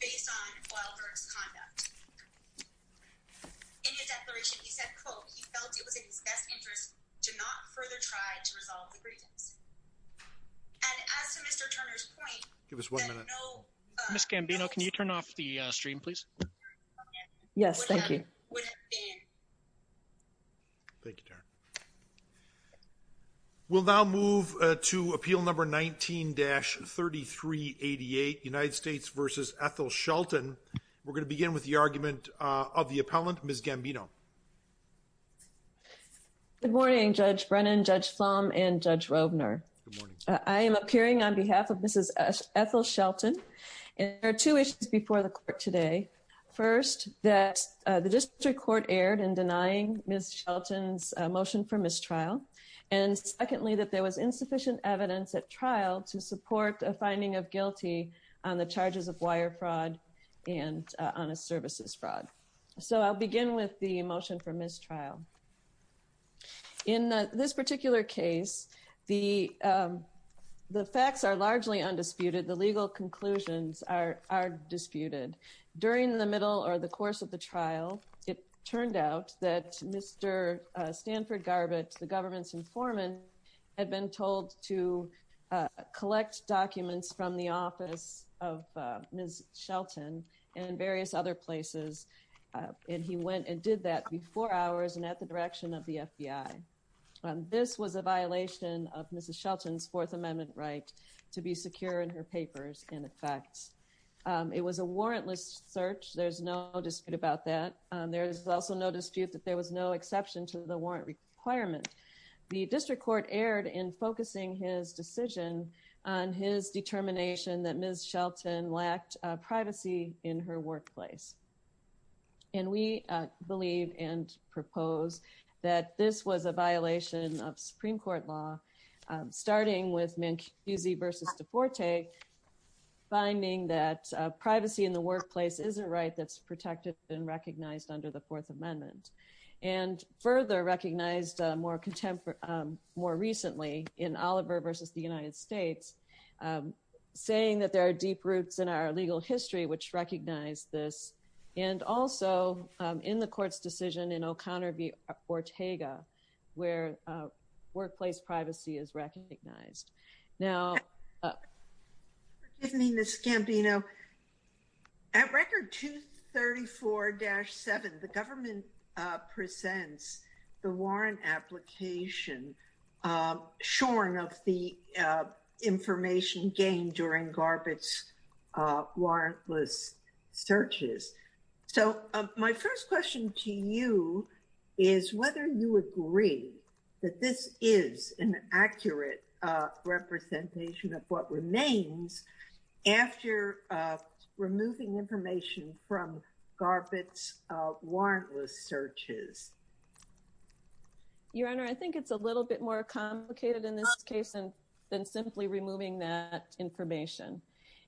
based on Wilder's conduct in his declaration he said, quote, he felt it was in his best interest to not further try to resolve the grievance and as to Mr. Turner's point I'm going to call on Miss Gambino to speak on behalf of the appellant. Give us one minute. Miss Gambino, can you turn off the stream, please? Yes, thank you. Thank you. We'll now move to appeal number 19-3388, United States v. Ethel Shelton. We're going to begin with the argument of the appellant, Miss Gambino. Good morning, Judge Brennan, Judge Flom, and Judge Rovner. I am appearing on behalf of Mrs. Ethel Shelton. There are two issues before the court today. First, that the district court erred in denying Miss Shelton's motion for mistrial. And secondly, that there was insufficient evidence at trial to support a finding of guilty on the charges of wire fraud and honest services fraud. So I'll begin with the motion for mistrial. In this particular case, the facts are largely undisputed. The legal conclusions are disputed. During the middle or the course of the trial, it turned out that Mr. Stanford Garbutt, the government's informant, had been told to collect documents from the office of Miss Shelton and various other places. And he went and did that before hours and at the direction of the FBI. This was a violation of Mrs. Shelton's Fourth Amendment right to be secure in her papers, in effect. It was a warrantless search. There's no dispute about that. There is also no dispute that there was no exception to the warrant requirement. The district court erred in focusing his decision on his determination that Miss Shelton lacked privacy in her workplace. And we believe and propose that this was a violation of Supreme Court law, starting with Mancusi versus DeForte, finding that privacy in the workplace is a right that's protected and recognized under the Fourth Amendment and further recognized more recently in Oliver versus the United States, saying that there are deep roots in our legal history which recognize this. And also in the court's decision in O'Connor v. Ortega, where workplace privacy is recognized. Now. Good evening, Ms. Scambino. At Record 234-7, the government presents the warrant application shorn of the information gained during Garbutt's warrantless searches. So my first question to you is whether you agree that this is an accurate representation of what remains after removing information from Garbutt's warrantless searches. Your Honor, I think it's a little bit more complicated in this case than simply removing that information.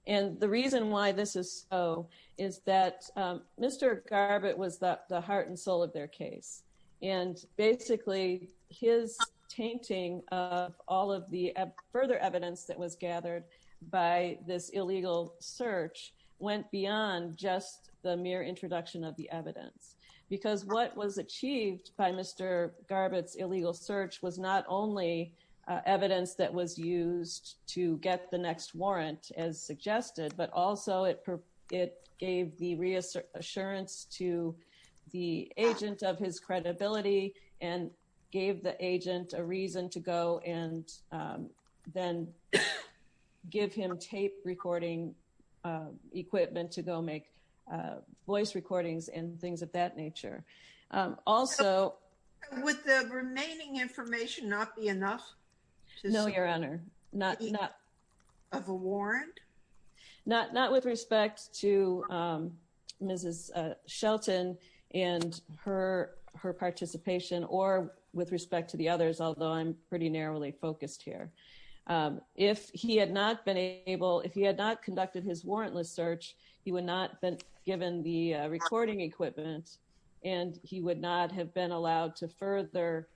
And the reason why this is so is that Mr. Garbutt was the heart and soul of their case. And basically, his tainting of all of the further evidence that was gathered by this illegal search went beyond just the mere introduction of the evidence. Because what was achieved by Mr. Garbutt's illegal search was not only evidence that was used to get the next warrant, as suggested, but also it gave the reassurance to the agent of his credibility and gave the agent a reason to go and then give him tape recording equipment to go make voice recordings and things of that nature. Would the remaining information not be enough? No, Your Honor. Of a warrant? Not with respect to Mrs. Shelton and her participation or with respect to the others, although I'm pretty narrowly focused here. If he had not been able, if he had not conducted his warrantless search, he would not have been given the recording equipment and he would not have been allowed to further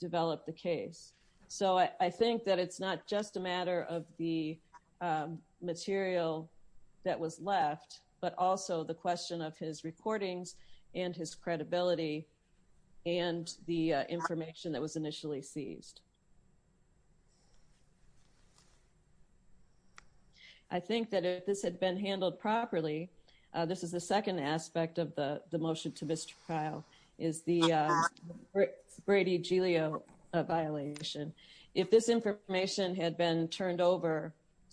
develop the case. So I think that it's not just a matter of the material that was left, but also the question of his recordings and his credibility and the information that was initially seized. I think that if this had been handled properly, this is the second aspect of the motion to mistrial is the Brady Giulio violation. If this information had been turned over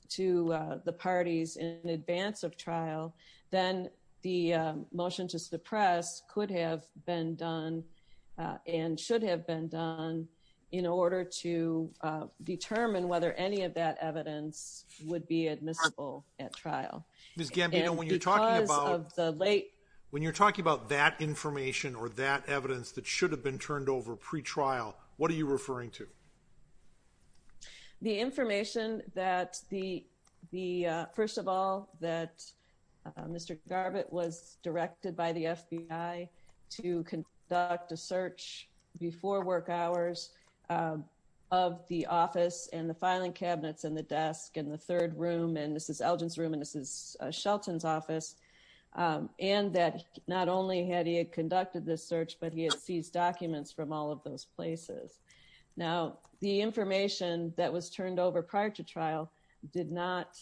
to the parties in advance of trial, then the motion to suppress could have been done and should have been done in order to determine whether any of that evidence would be admissible at trial. Ms. Gambino, when you're talking about that information or that evidence that should have been turned over pre-trial, what are you referring to? The information that the, first of all, that Mr. Garbutt was directed by the FBI to conduct a search before work hours of the office and the filing cabinets and the desk and the third room. And this is Elgin's room and this is Shelton's office. And that not only had he conducted this search, but he had seized documents from all of those places. Now, the information that was turned over prior to trial did not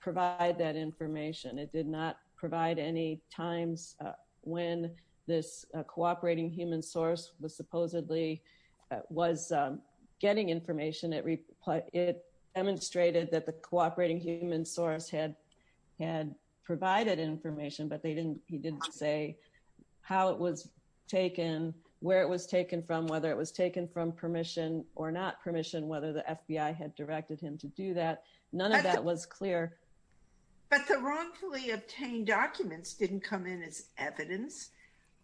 provide that information. It did not provide any times when this cooperating human source was supposedly was getting information. It demonstrated that the cooperating human source had provided information, but he didn't say how it was taken, where it was taken from, whether it was taken from permission or not permission, whether the FBI had directed him to do that. None of that was clear. But the wrongfully obtained documents didn't come in as evidence.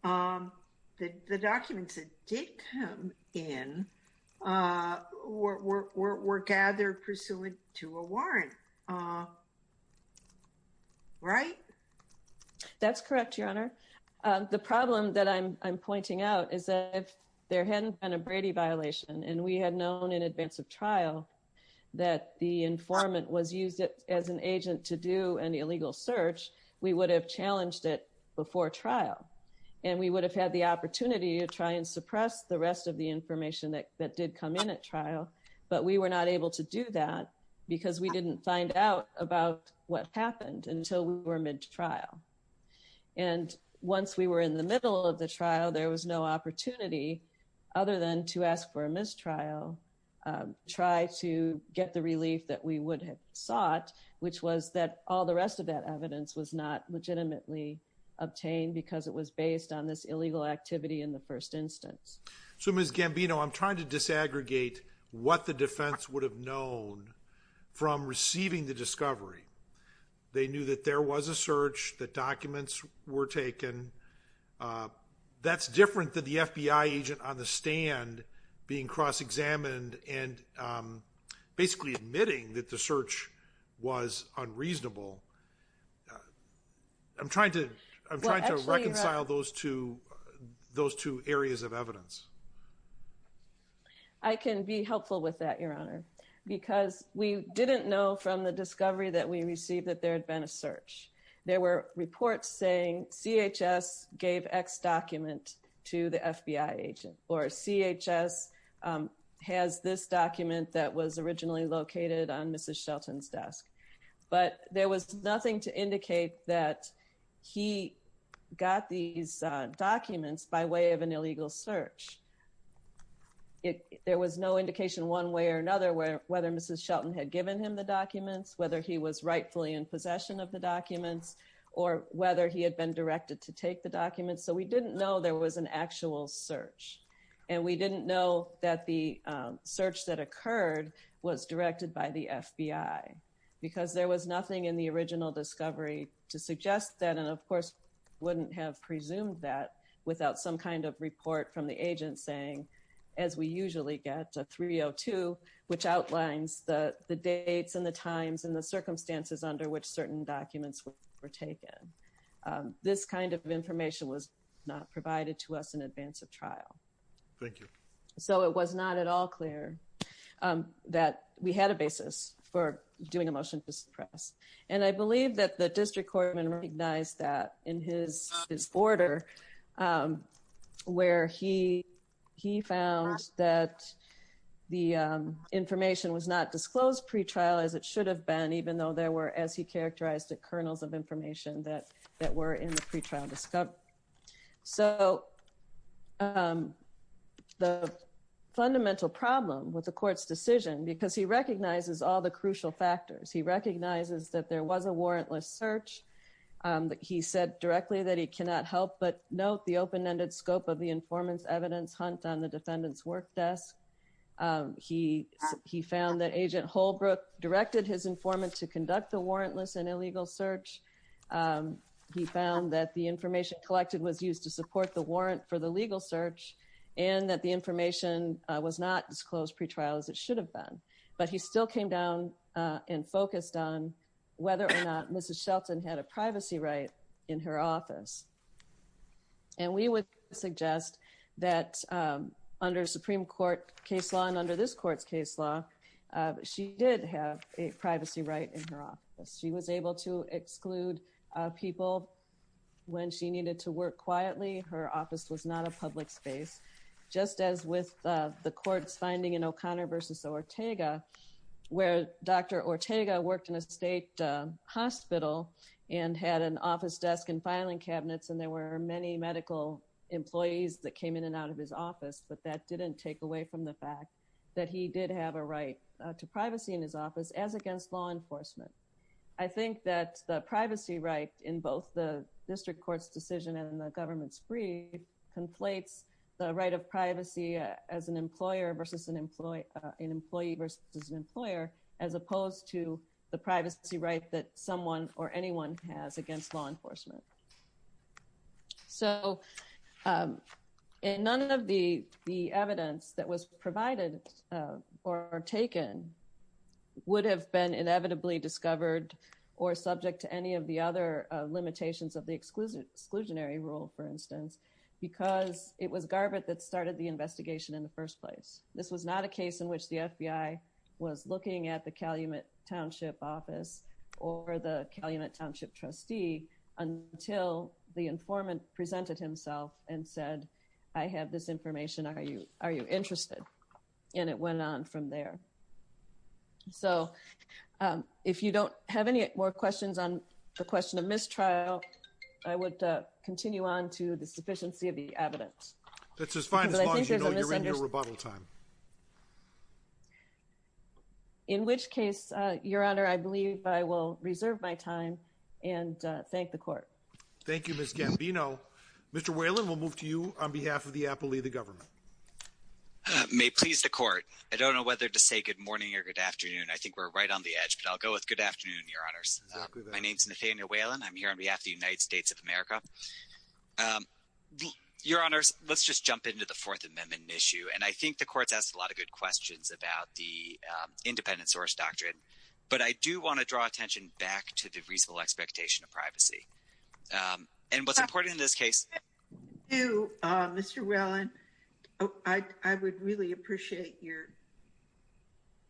The documents that did come in were gathered pursuant to a warrant, right? That's correct, Your Honor. The problem that I'm pointing out is that if there hadn't been a Brady violation and we had known in advance of trial that the informant was used as an agent to do an illegal search, we would have challenged it before trial. And we would have had the opportunity to try and suppress the rest of the information that did come in at trial. But we were not able to do that because we didn't find out about what happened until we were mid-trial. And once we were in the middle of the trial, there was no opportunity other than to ask for a mistrial, try to get the relief that we would have sought, which was that all the rest of that evidence was not legitimately obtained because it was based on this illegal activity in the first instance. So, Ms. Gambino, I'm trying to disaggregate what the defense would have known from receiving the discovery. They knew that there was a search, that documents were taken. That's different than the FBI agent on the stand being cross-examined and basically admitting that the search was unreasonable. I'm trying to reconcile those two areas of evidence. I can be helpful with that, Your Honor, because we didn't know from the discovery that we received that there had been a search. There were reports saying CHS gave X document to the FBI agent or CHS has this document that was originally located on Mrs. Shelton's desk. But there was nothing to indicate that he got these documents by way of an illegal search. There was no indication one way or another whether Mrs. Shelton had given him the documents, whether he was rightfully in possession of the documents, or whether he had been directed to take the documents. So, we didn't know there was an actual search. And we didn't know that the search that occurred was directed by the FBI because there was nothing in the original discovery to suggest that. And, of course, wouldn't have presumed that without some kind of report from the agent saying, as we usually get, 302, which outlines the dates and the times and the circumstances under which certain documents were taken. This kind of information was not provided to us in advance of trial. Thank you. So, it was not at all clear that we had a basis for doing a motion to suppress. And I believe that the district court recognized that in his order where he found that the information was not disclosed pre-trial as it should have been, even though there were, as he characterized, the kernels of information that were in the pre-trial discovery. So, the fundamental problem with the court's decision, because he recognizes all the crucial factors. He recognizes that there was a warrantless search. He said directly that he cannot help but note the open-ended scope of the informant's evidence hunt on the defendant's work desk. He found that Agent Holbrook directed his informant to conduct the warrantless and illegal search. He found that the information collected was used to support the warrant for the legal search and that the information was not disclosed pre-trial as it should have been. But he still came down and focused on whether or not Mrs. Shelton had a privacy right in her office. And we would suggest that under Supreme Court case law and under this court's case law, she did have a privacy right in her office. She was able to exclude people when she needed to work quietly. Her office was not a public space. Just as with the court's finding in O'Connor v. Ortega, where Dr. Ortega worked in a state hospital and had an office desk and filing cabinets, and there were many medical employees that came in and out of his office, but that didn't take away from the fact that he did have a right to privacy in his office as against law enforcement. I think that the privacy right in both the district court's decision and the government's brief conflates the right of privacy as an employee versus an employer as opposed to the privacy right that someone or anyone has against law enforcement. So, none of the evidence that was provided or taken would have been inevitably discovered or subject to any of the other limitations of the exclusionary rule, for instance, because it was Garbutt that started the investigation in the first place. This was not a case in which the FBI was looking at the Calumet Township office or the Calumet Township trustee until the informant presented himself and said, I have this information. Are you interested? And it went on from there. So, if you don't have any more questions on the question of mistrial, I would continue on to the sufficiency of the evidence. That's as fine as long as you know you're in your rebuttal time. In which case, Your Honor, I believe I will reserve my time and thank the court. Thank you, Ms. Gambino. Mr. Whalen, we'll move to you on behalf of the appellee of the government. May it please the court. I don't know whether to say good morning or good afternoon. I think we're right on the edge, but I'll go with good afternoon, Your Honors. My name is Nathaniel Whalen. I'm here on behalf of the United States of America. Your Honors, let's just jump into the Fourth Amendment issue. And I think the court has a lot of good questions about the independent source doctrine. But I do want to draw attention back to the reasonable expectation of privacy. And what's important in this case. Thank you, Mr. Whalen. I would really appreciate your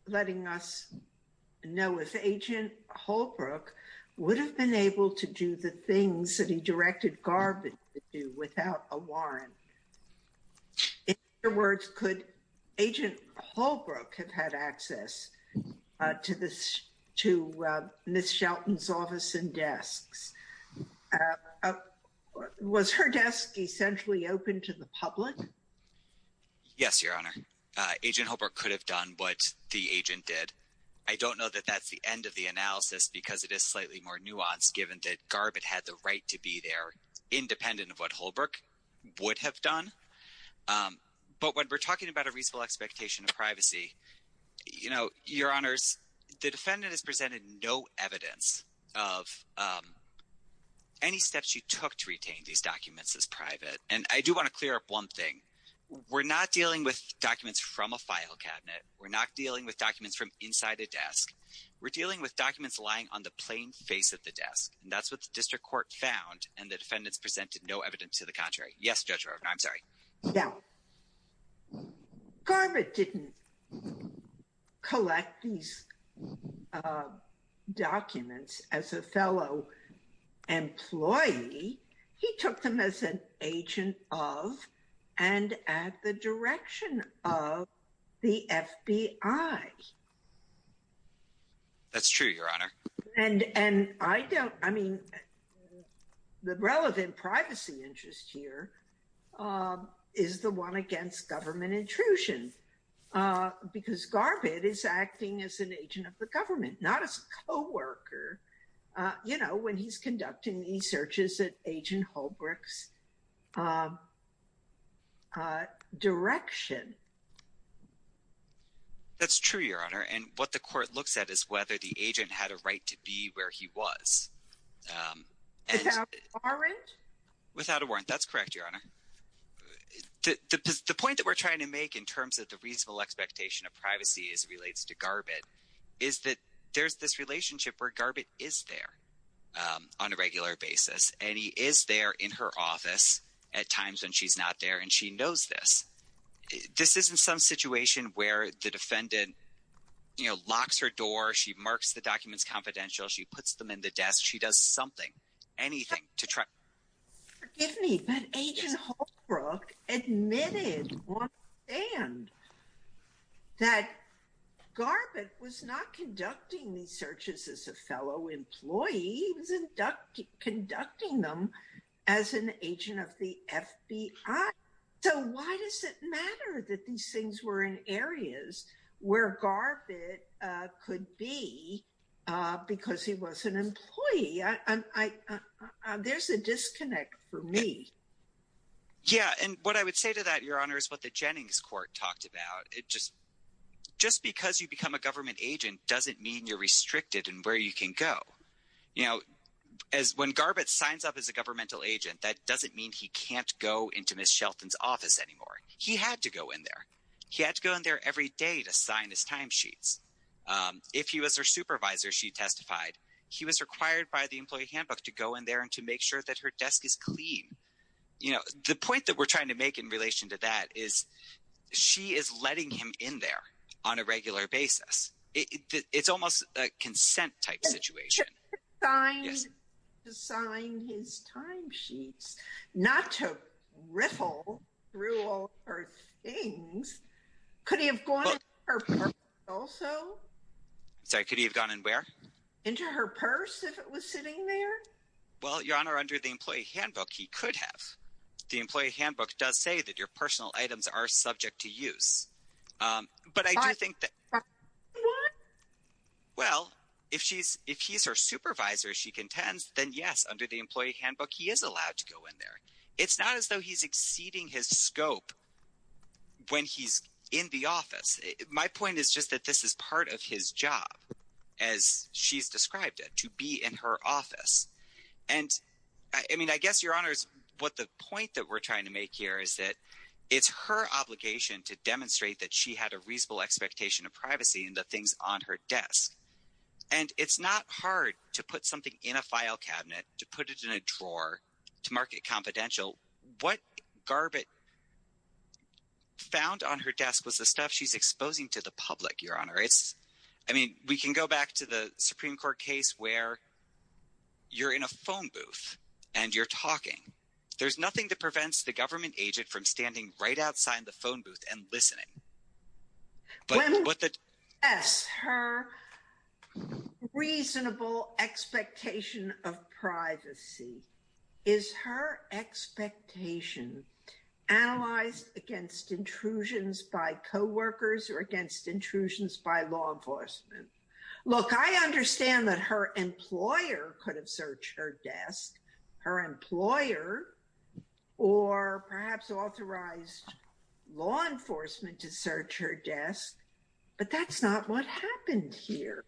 letting us know if Agent Holbrook would have been able to do the things that he directed Garvin to do without a warrant. In other words, could Agent Holbrook have had access to Ms. Shelton's office and desks? Was her desk essentially open to the public? Yes, Your Honor. Agent Holbrook could have done what the agent did. I don't know that that's the end of the analysis because it is slightly more nuanced given that Garvin had the right to be there independent of what Holbrook would have done. But when we're talking about a reasonable expectation of privacy, Your Honors, the defendant has presented no evidence of any steps she took to retain these documents as private. And I do want to clear up one thing. We're not dealing with documents from a file cabinet. We're not dealing with documents from inside a desk. We're dealing with documents lying on the plain face of the desk. And that's what the district court found. And the defendants presented no evidence to the contrary. Yes, Judge Rovner, I'm sorry. Now, Garvin didn't collect these documents as a fellow employee. He took them as an agent of and at the direction of the FBI. That's true, Your Honor. And I don't I mean, the relevant privacy interest here is the one against government intrusion because Garvin is acting as an agent of the government, not as a co-worker. You know, when he's conducting these searches at Agent Holbrook's direction. That's true, Your Honor. And what the court looks at is whether the agent had a right to be where he was. Without a warrant? Without a warrant. That's correct, Your Honor. The point that we're trying to make in terms of the reasonable expectation of privacy as it relates to Garvin is that there's this relationship where Garvin is there on a regular basis. And he is there in her office at times when she's not there. And she knows this. This isn't some situation where the defendant locks her door. She marks the documents confidential. She puts them in the desk. She does something, anything to try. Forgive me, but Agent Holbrook admitted on the stand that Garvin was not conducting these searches as a fellow employee. He was conducting them as an agent of the FBI. So why does it matter that these things were in areas where Garvin could be because he was an employee? There's a disconnect for me. Yeah, and what I would say to that, Your Honor, is what the Jennings Court talked about. Just because you become a government agent doesn't mean you're restricted in where you can go. You know, when Garvin signs up as a governmental agent, that doesn't mean he can't go into Ms. Shelton's office anymore. He had to go in there. He had to go in there every day to sign his timesheets. If he was her supervisor, she testified, he was required by the employee handbook to go in there and to make sure that her desk is clean. You know, the point that we're trying to make in relation to that is she is letting him in there on a regular basis. It's almost a consent-type situation. To sign his timesheets, not to riffle through all her things. Could he have gone in her purse also? Sorry, could he have gone in where? Into her purse if it was sitting there? Well, Your Honor, under the employee handbook, he could have. The employee handbook does say that your personal items are subject to use. But I do think that… What? Well, if he's her supervisor, she contends, then yes, under the employee handbook, he is allowed to go in there. It's not as though he's exceeding his scope when he's in the office. My point is just that this is part of his job, as she's described it, to be in her office. I mean, I guess, Your Honor, the point that we're trying to make here is that it's her obligation to demonstrate that she had a reasonable expectation of privacy in the things on her desk. And it's not hard to put something in a file cabinet, to put it in a drawer, to mark it confidential. What Garbutt found on her desk was the stuff she's exposing to the public, Your Honor. I mean, we can go back to the Supreme Court case where you're in a phone booth and you're talking. There's nothing that prevents the government agent from standing right outside the phone booth and listening. Yes, her reasonable expectation of privacy is her expectation analyzed against intrusions by coworkers or against intrusions by law enforcement. Look, I understand that her employer could have searched her desk, her employer, or perhaps authorized law enforcement to search her desk. But that's not what happened here.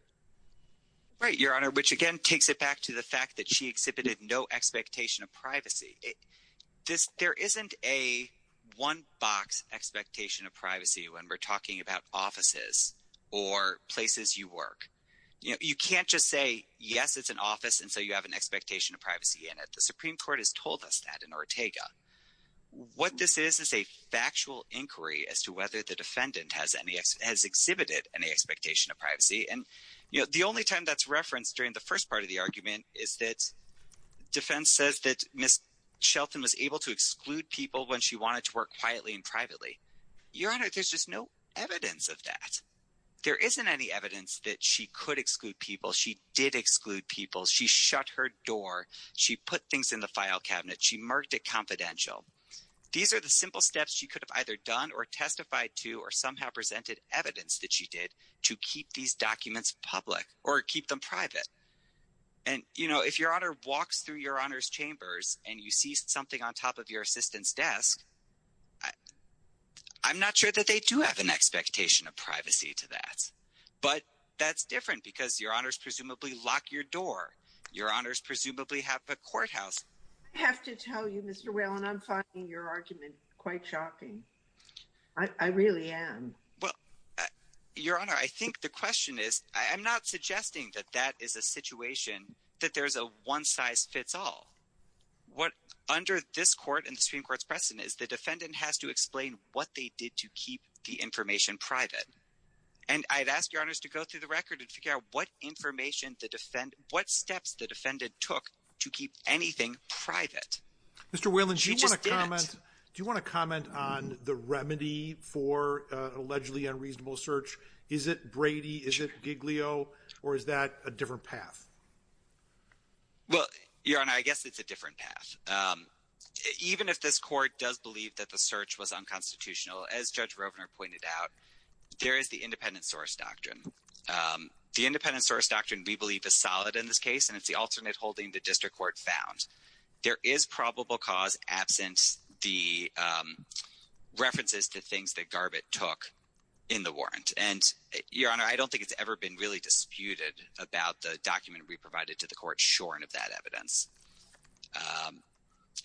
Right, Your Honor, which again takes it back to the fact that she exhibited no expectation of privacy. There isn't a one-box expectation of privacy when we're talking about offices or places you work. You can't just say, yes, it's an office, and so you have an expectation of privacy in it. The Supreme Court has told us that in Ortega. What this is is a factual inquiry as to whether the defendant has exhibited any expectation of privacy. And the only time that's referenced during the first part of the argument is that defense says that Ms. Shelton was able to exclude people when she wanted to work quietly and privately. Your Honor, there's just no evidence of that. There isn't any evidence that she could exclude people. She did exclude people. She shut her door. She put things in the file cabinet. She marked it confidential. These are the simple steps she could have either done or testified to or somehow presented evidence that she did to keep these documents public or keep them private. And, you know, if Your Honor walks through Your Honor's chambers and you see something on top of your assistant's desk, I'm not sure that they do have an expectation of privacy to that. But that's different because Your Honors presumably lock your door. Your Honors presumably have a courthouse. I have to tell you, Mr. Whalen, I'm finding your argument quite shocking. I really am. Well, Your Honor, I think the question is I'm not suggesting that that is a situation that there's a one-size-fits-all. What under this court and the Supreme Court's precedent is the defendant has to explain what they did to keep the information private. And I've asked Your Honors to go through the record and figure out what information the defendant, what steps the defendant took to keep anything private. Mr. Whalen, do you want to comment on the remedy for allegedly unreasonable search? Is it Brady? Is it Giglio? Or is that a different path? Well, Your Honor, I guess it's a different path. Even if this court does believe that the search was unconstitutional, as Judge Rovner pointed out, there is the independent source doctrine. The independent source doctrine we believe is solid in this case, and it's the alternate holding the district court found. There is probable cause absent the references to things that Garbutt took in the warrant. And, Your Honor, I don't think it's ever been really disputed about the document we provided to the court shorn of that evidence.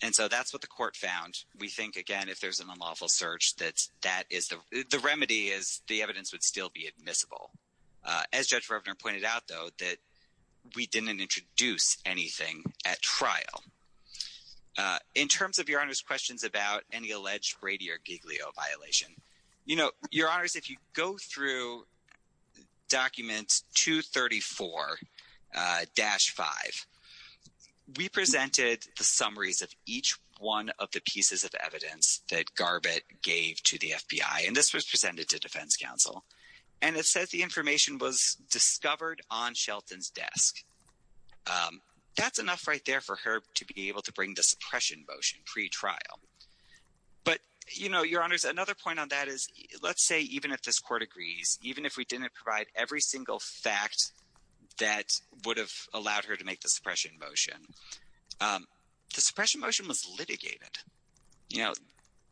And so that's what the court found. We think, again, if there's an unlawful search, that that is the remedy is the evidence would still be admissible. As Judge Rovner pointed out, though, that we didn't introduce anything at trial. In terms of Your Honor's questions about any alleged Brady or Giglio violation, you know, Your Honor, if you go through document 234-5, we presented the summaries of each one of the pieces of evidence that Garbutt gave to the FBI, and this was presented to defense counsel. And it says the information was discovered on Shelton's desk. That's enough right there for her to be able to bring the suppression motion pretrial. But, you know, Your Honor, another point on that is, let's say even if this court agrees, even if we didn't provide every single fact that would have allowed her to make the suppression motion, the suppression motion was litigated. You know,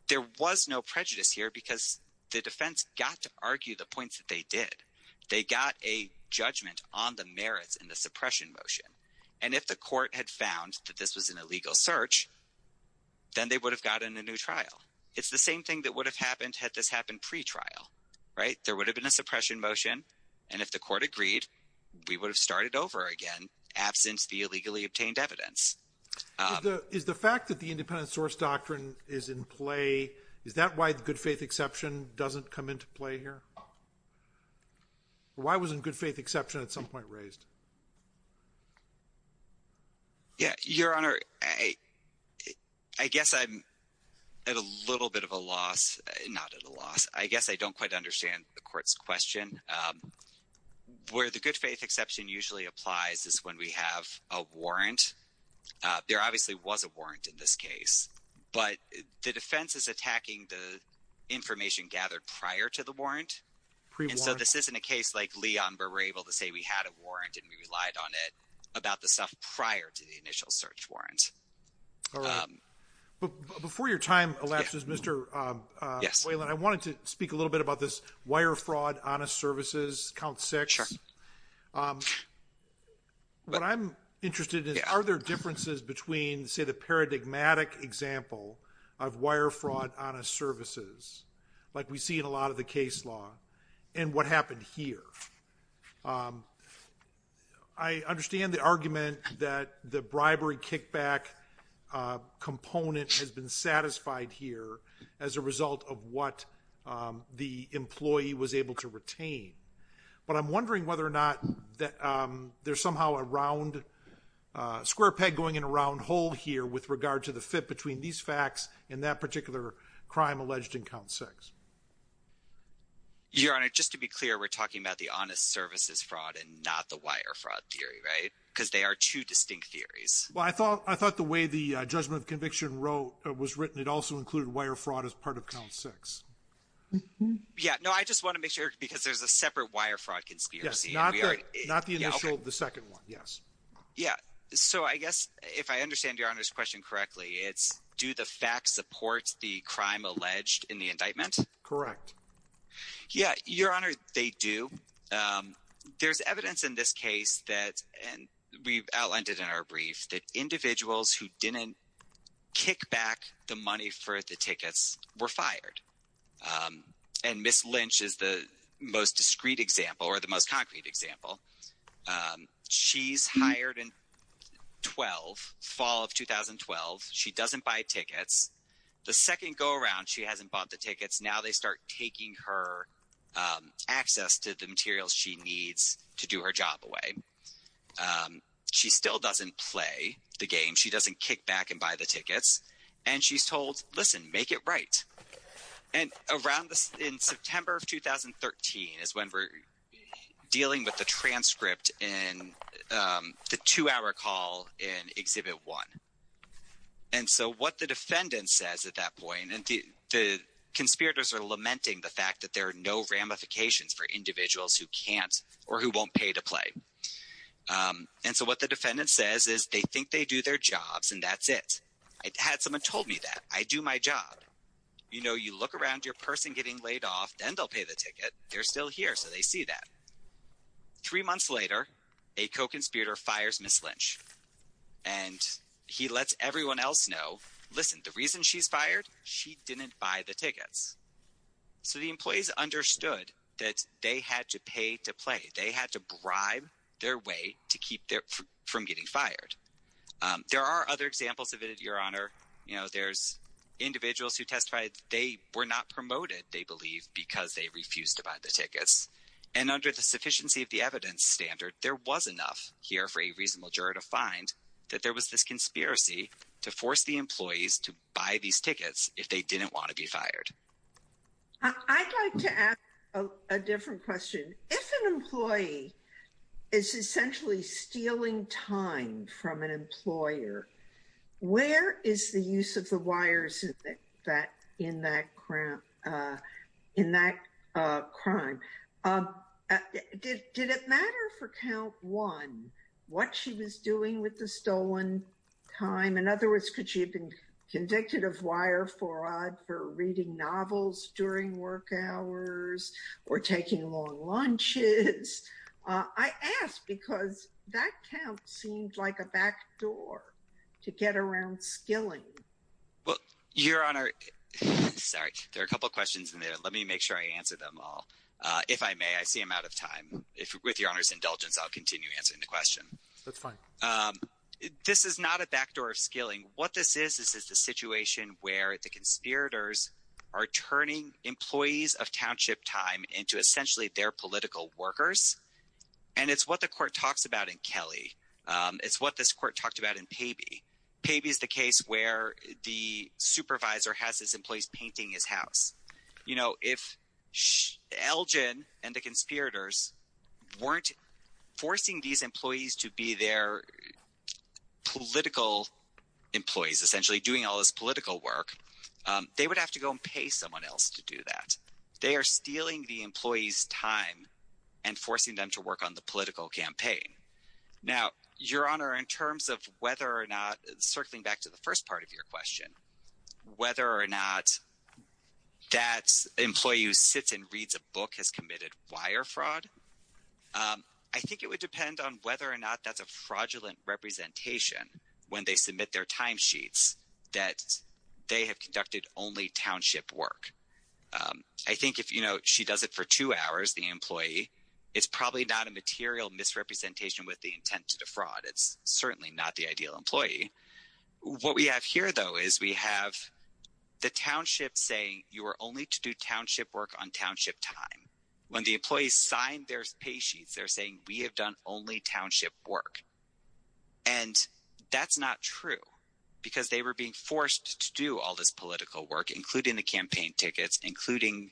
there was no prejudice here because the defense got to argue the points that they did. They got a judgment on the merits in the suppression motion. And if the court had found that this was an illegal search, then they would have gotten a new trial. It's the same thing that would have happened had this happened pretrial, right? There would have been a suppression motion. And if the court agreed, we would have started over again, absent the illegally obtained evidence. Is the fact that the independent source doctrine is in play, is that why the good faith exception doesn't come into play here? Why wasn't good faith exception at some point raised? Yeah, Your Honor, I guess I'm at a little bit of a loss. Not at a loss. I guess I don't quite understand the court's question. Where the good faith exception usually applies is when we have a warrant. There obviously was a warrant in this case, but the defense is attacking the information gathered prior to the warrant. And so this isn't a case like Leon where we're able to say we had a warrant and we relied on it about the stuff prior to the initial search warrant. All right. But before your time elapses, Mr. Whalen, I wanted to speak a little bit about this wire fraud, honest services, count six. Sure. What I'm interested in is are there differences between, say, the paradigmatic example of wire fraud, honest services, like we see in a lot of the case law, and what happened here? I understand the argument that the bribery kickback component has been satisfied here as a result of what the employee was able to retain. But I'm wondering whether or not there's somehow a square peg going in a round hole here with regard to the fit between these facts and that particular crime alleged in count six. Your Honor, just to be clear, we're talking about the honest services fraud and not the wire fraud theory, right? Because they are two distinct theories. Well, I thought the way the judgment of conviction was written, it also included wire fraud as part of count six. Yeah. No, I just want to make sure because there's a separate wire fraud conspiracy. Not the initial, the second one. Yes. Yeah. So I guess if I understand Your Honor's question correctly, it's do the facts support the crime alleged in the indictment? Correct. Yeah. Your Honor, they do. There's evidence in this case that we've outlined in our brief that individuals who didn't kick back the money for the tickets were fired. And Ms. Lynch is the most discreet example or the most concrete example. She's hired in 12, fall of 2012. She doesn't buy tickets. The second go around, she hasn't bought the tickets. Now they start taking her access to the materials she needs to do her job away. She still doesn't play the game. She doesn't kick back and buy the tickets. And she's told, listen, make it right. And around in September of 2013 is when we're dealing with the transcript in the two-hour call in Exhibit 1. And so what the defendant says at that point, and the conspirators are lamenting the fact that there are no ramifications for individuals who can't or who won't pay to play. And so what the defendant says is they think they do their jobs and that's it. I had someone told me that. I do my job. You know, you look around, you're a person getting laid off, then they'll pay the ticket. They're still here, so they see that. Three months later, a co-conspirator fires Ms. Lynch. And he lets everyone else know, listen, the reason she's fired, she didn't buy the tickets. So the employees understood that they had to pay to play. They had to bribe their way to keep from getting fired. There are other examples of it, Your Honor. You know, there's individuals who testified they were not promoted, they believe, because they refused to buy the tickets. And under the sufficiency of the evidence standard, there was enough here for a reasonable juror to find that there was this conspiracy to force the employees to buy these tickets if they didn't want to be fired. I'd like to ask a different question. If an employee is essentially stealing time from an employer, where is the use of the wires in that crime? Did it matter for count one what she was doing with the stolen time? In other words, could she have been convicted of wire fraud for reading novels during work hours or taking long lunches? I ask because that count seemed like a backdoor to get around skilling. Well, Your Honor, sorry. There are a couple of questions in there. Let me make sure I answer them all. If I may, I see I'm out of time. With Your Honor's indulgence, I'll continue answering the question. That's fine. This is not a backdoor of skilling. What this is, this is the situation where the conspirators are turning employees of Township Time into essentially their political workers. And it's what the court talks about in Kelly. It's what this court talked about in Pabey. Pabey is the case where the supervisor has his employees painting his house. If Elgin and the conspirators weren't forcing these employees to be their political employees, essentially doing all this political work, they would have to go and pay someone else to do that. They are stealing the employees' time and forcing them to work on the political campaign. Now, Your Honor, in terms of whether or not, circling back to the first part of your question, whether or not that employee who sits and reads a book has committed wire fraud, I think it would depend on whether or not that's a fraudulent representation when they submit their timesheets that they have conducted only township work. I think if she does it for two hours, the employee, it's probably not a material misrepresentation with the intent to defraud. It's certainly not the ideal employee. What we have here, though, is we have the township saying you are only to do township work on township time. When the employees sign their paysheets, they're saying we have done only township work. And that's not true because they were being forced to do all this political work, including the campaign tickets, including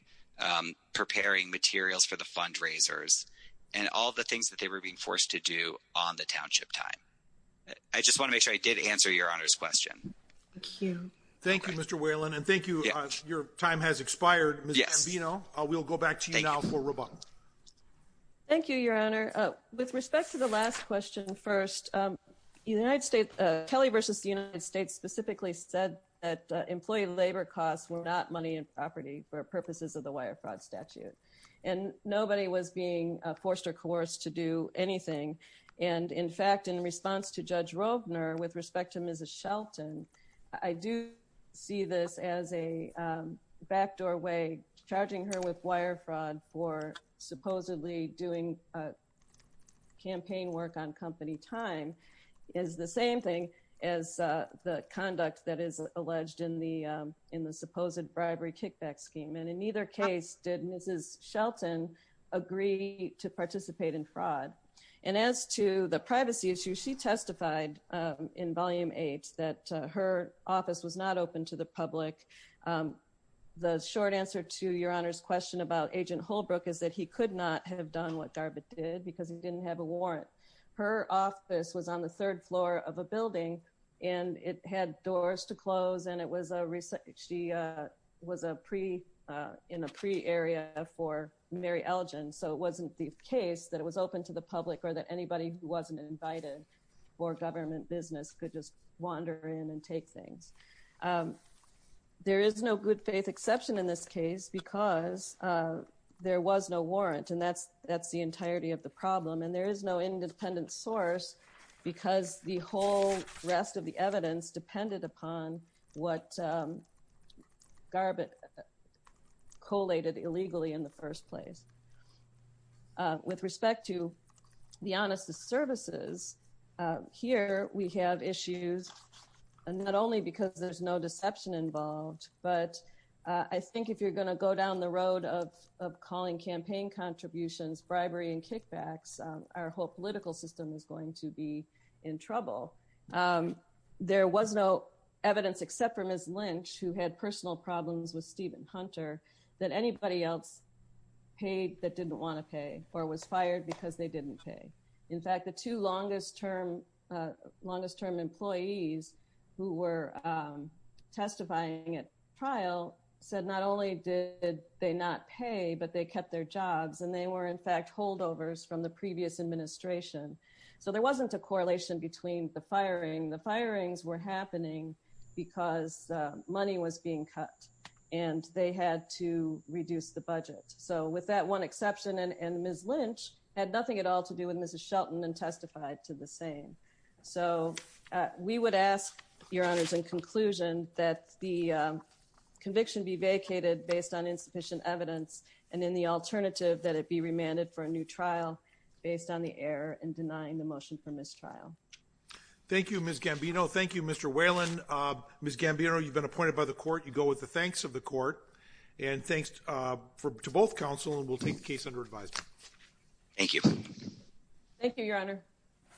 preparing materials for the fundraisers and all the things that they were being forced to do on the township time. I just want to make sure I did answer Your Honor's question. Thank you. Thank you, Mr. Whalen. And thank you. Your time has expired. You know, we'll go back to you now for rebuttal. Thank you, Your Honor. With respect to the last question first, the United States, Kelly versus the United States specifically said that employee labor costs were not money and property for purposes of the wire fraud statute. And nobody was being forced or coerced to do anything. And in fact, in response to Judge Rovner, with respect to Mrs. Shelton, I do see this as a backdoor way charging her with wire fraud for supposedly doing campaign work on company time is the same thing as the conduct that is alleged in the supposed bribery kickback scheme. And in either case, did Mrs. Shelton agree to participate in fraud? And as to the privacy issue, she testified in Volume 8 that her office was not open to the public. The short answer to Your Honor's question about Agent Holbrook is that he could not have done what Garbutt did because he didn't have a warrant. Her office was on the third floor of a building and it had doors to close and it was a research. She was a pre in a pre area for Mary Elgin. So it wasn't the case that it was open to the public or that anybody who wasn't invited for government business could just wander in and take things. There is no good faith exception in this case because there was no warrant and that's that's the entirety of the problem. And there is no independent source because the whole rest of the evidence depended upon what Garbutt collated illegally in the first place. With respect to the honest services here, we have issues and not only because there's no deception involved, but I think if you're going to go down the road of calling campaign contributions, bribery and kickbacks, our whole political system is going to be in trouble. There was no evidence except for Ms. Lynch, who had personal problems with Stephen Hunter, that anybody else paid that didn't want to pay or was fired because they didn't pay. In fact, the two longest term employees who were testifying at trial said not only did they not pay, but they kept their jobs and they were in fact holdovers from the previous administration. So there wasn't a correlation between the firing. The firings were happening because money was being cut and they had to reduce the budget. So with that one exception and Ms. Lynch had nothing at all to do with Mrs. Shelton and testified to the same. So we would ask your honors in conclusion that the conviction be vacated based on insufficient evidence and in the alternative that it be remanded for a new trial based on the error and denying the motion for mistrial. Thank you, Ms. Gambino. Thank you, Mr. Whalen. Ms. Gambino, you've been appointed by the court. You go with the thanks of the court and thanks to both counsel and we'll take the case under advisement. Thank you. Thank you, Your Honor.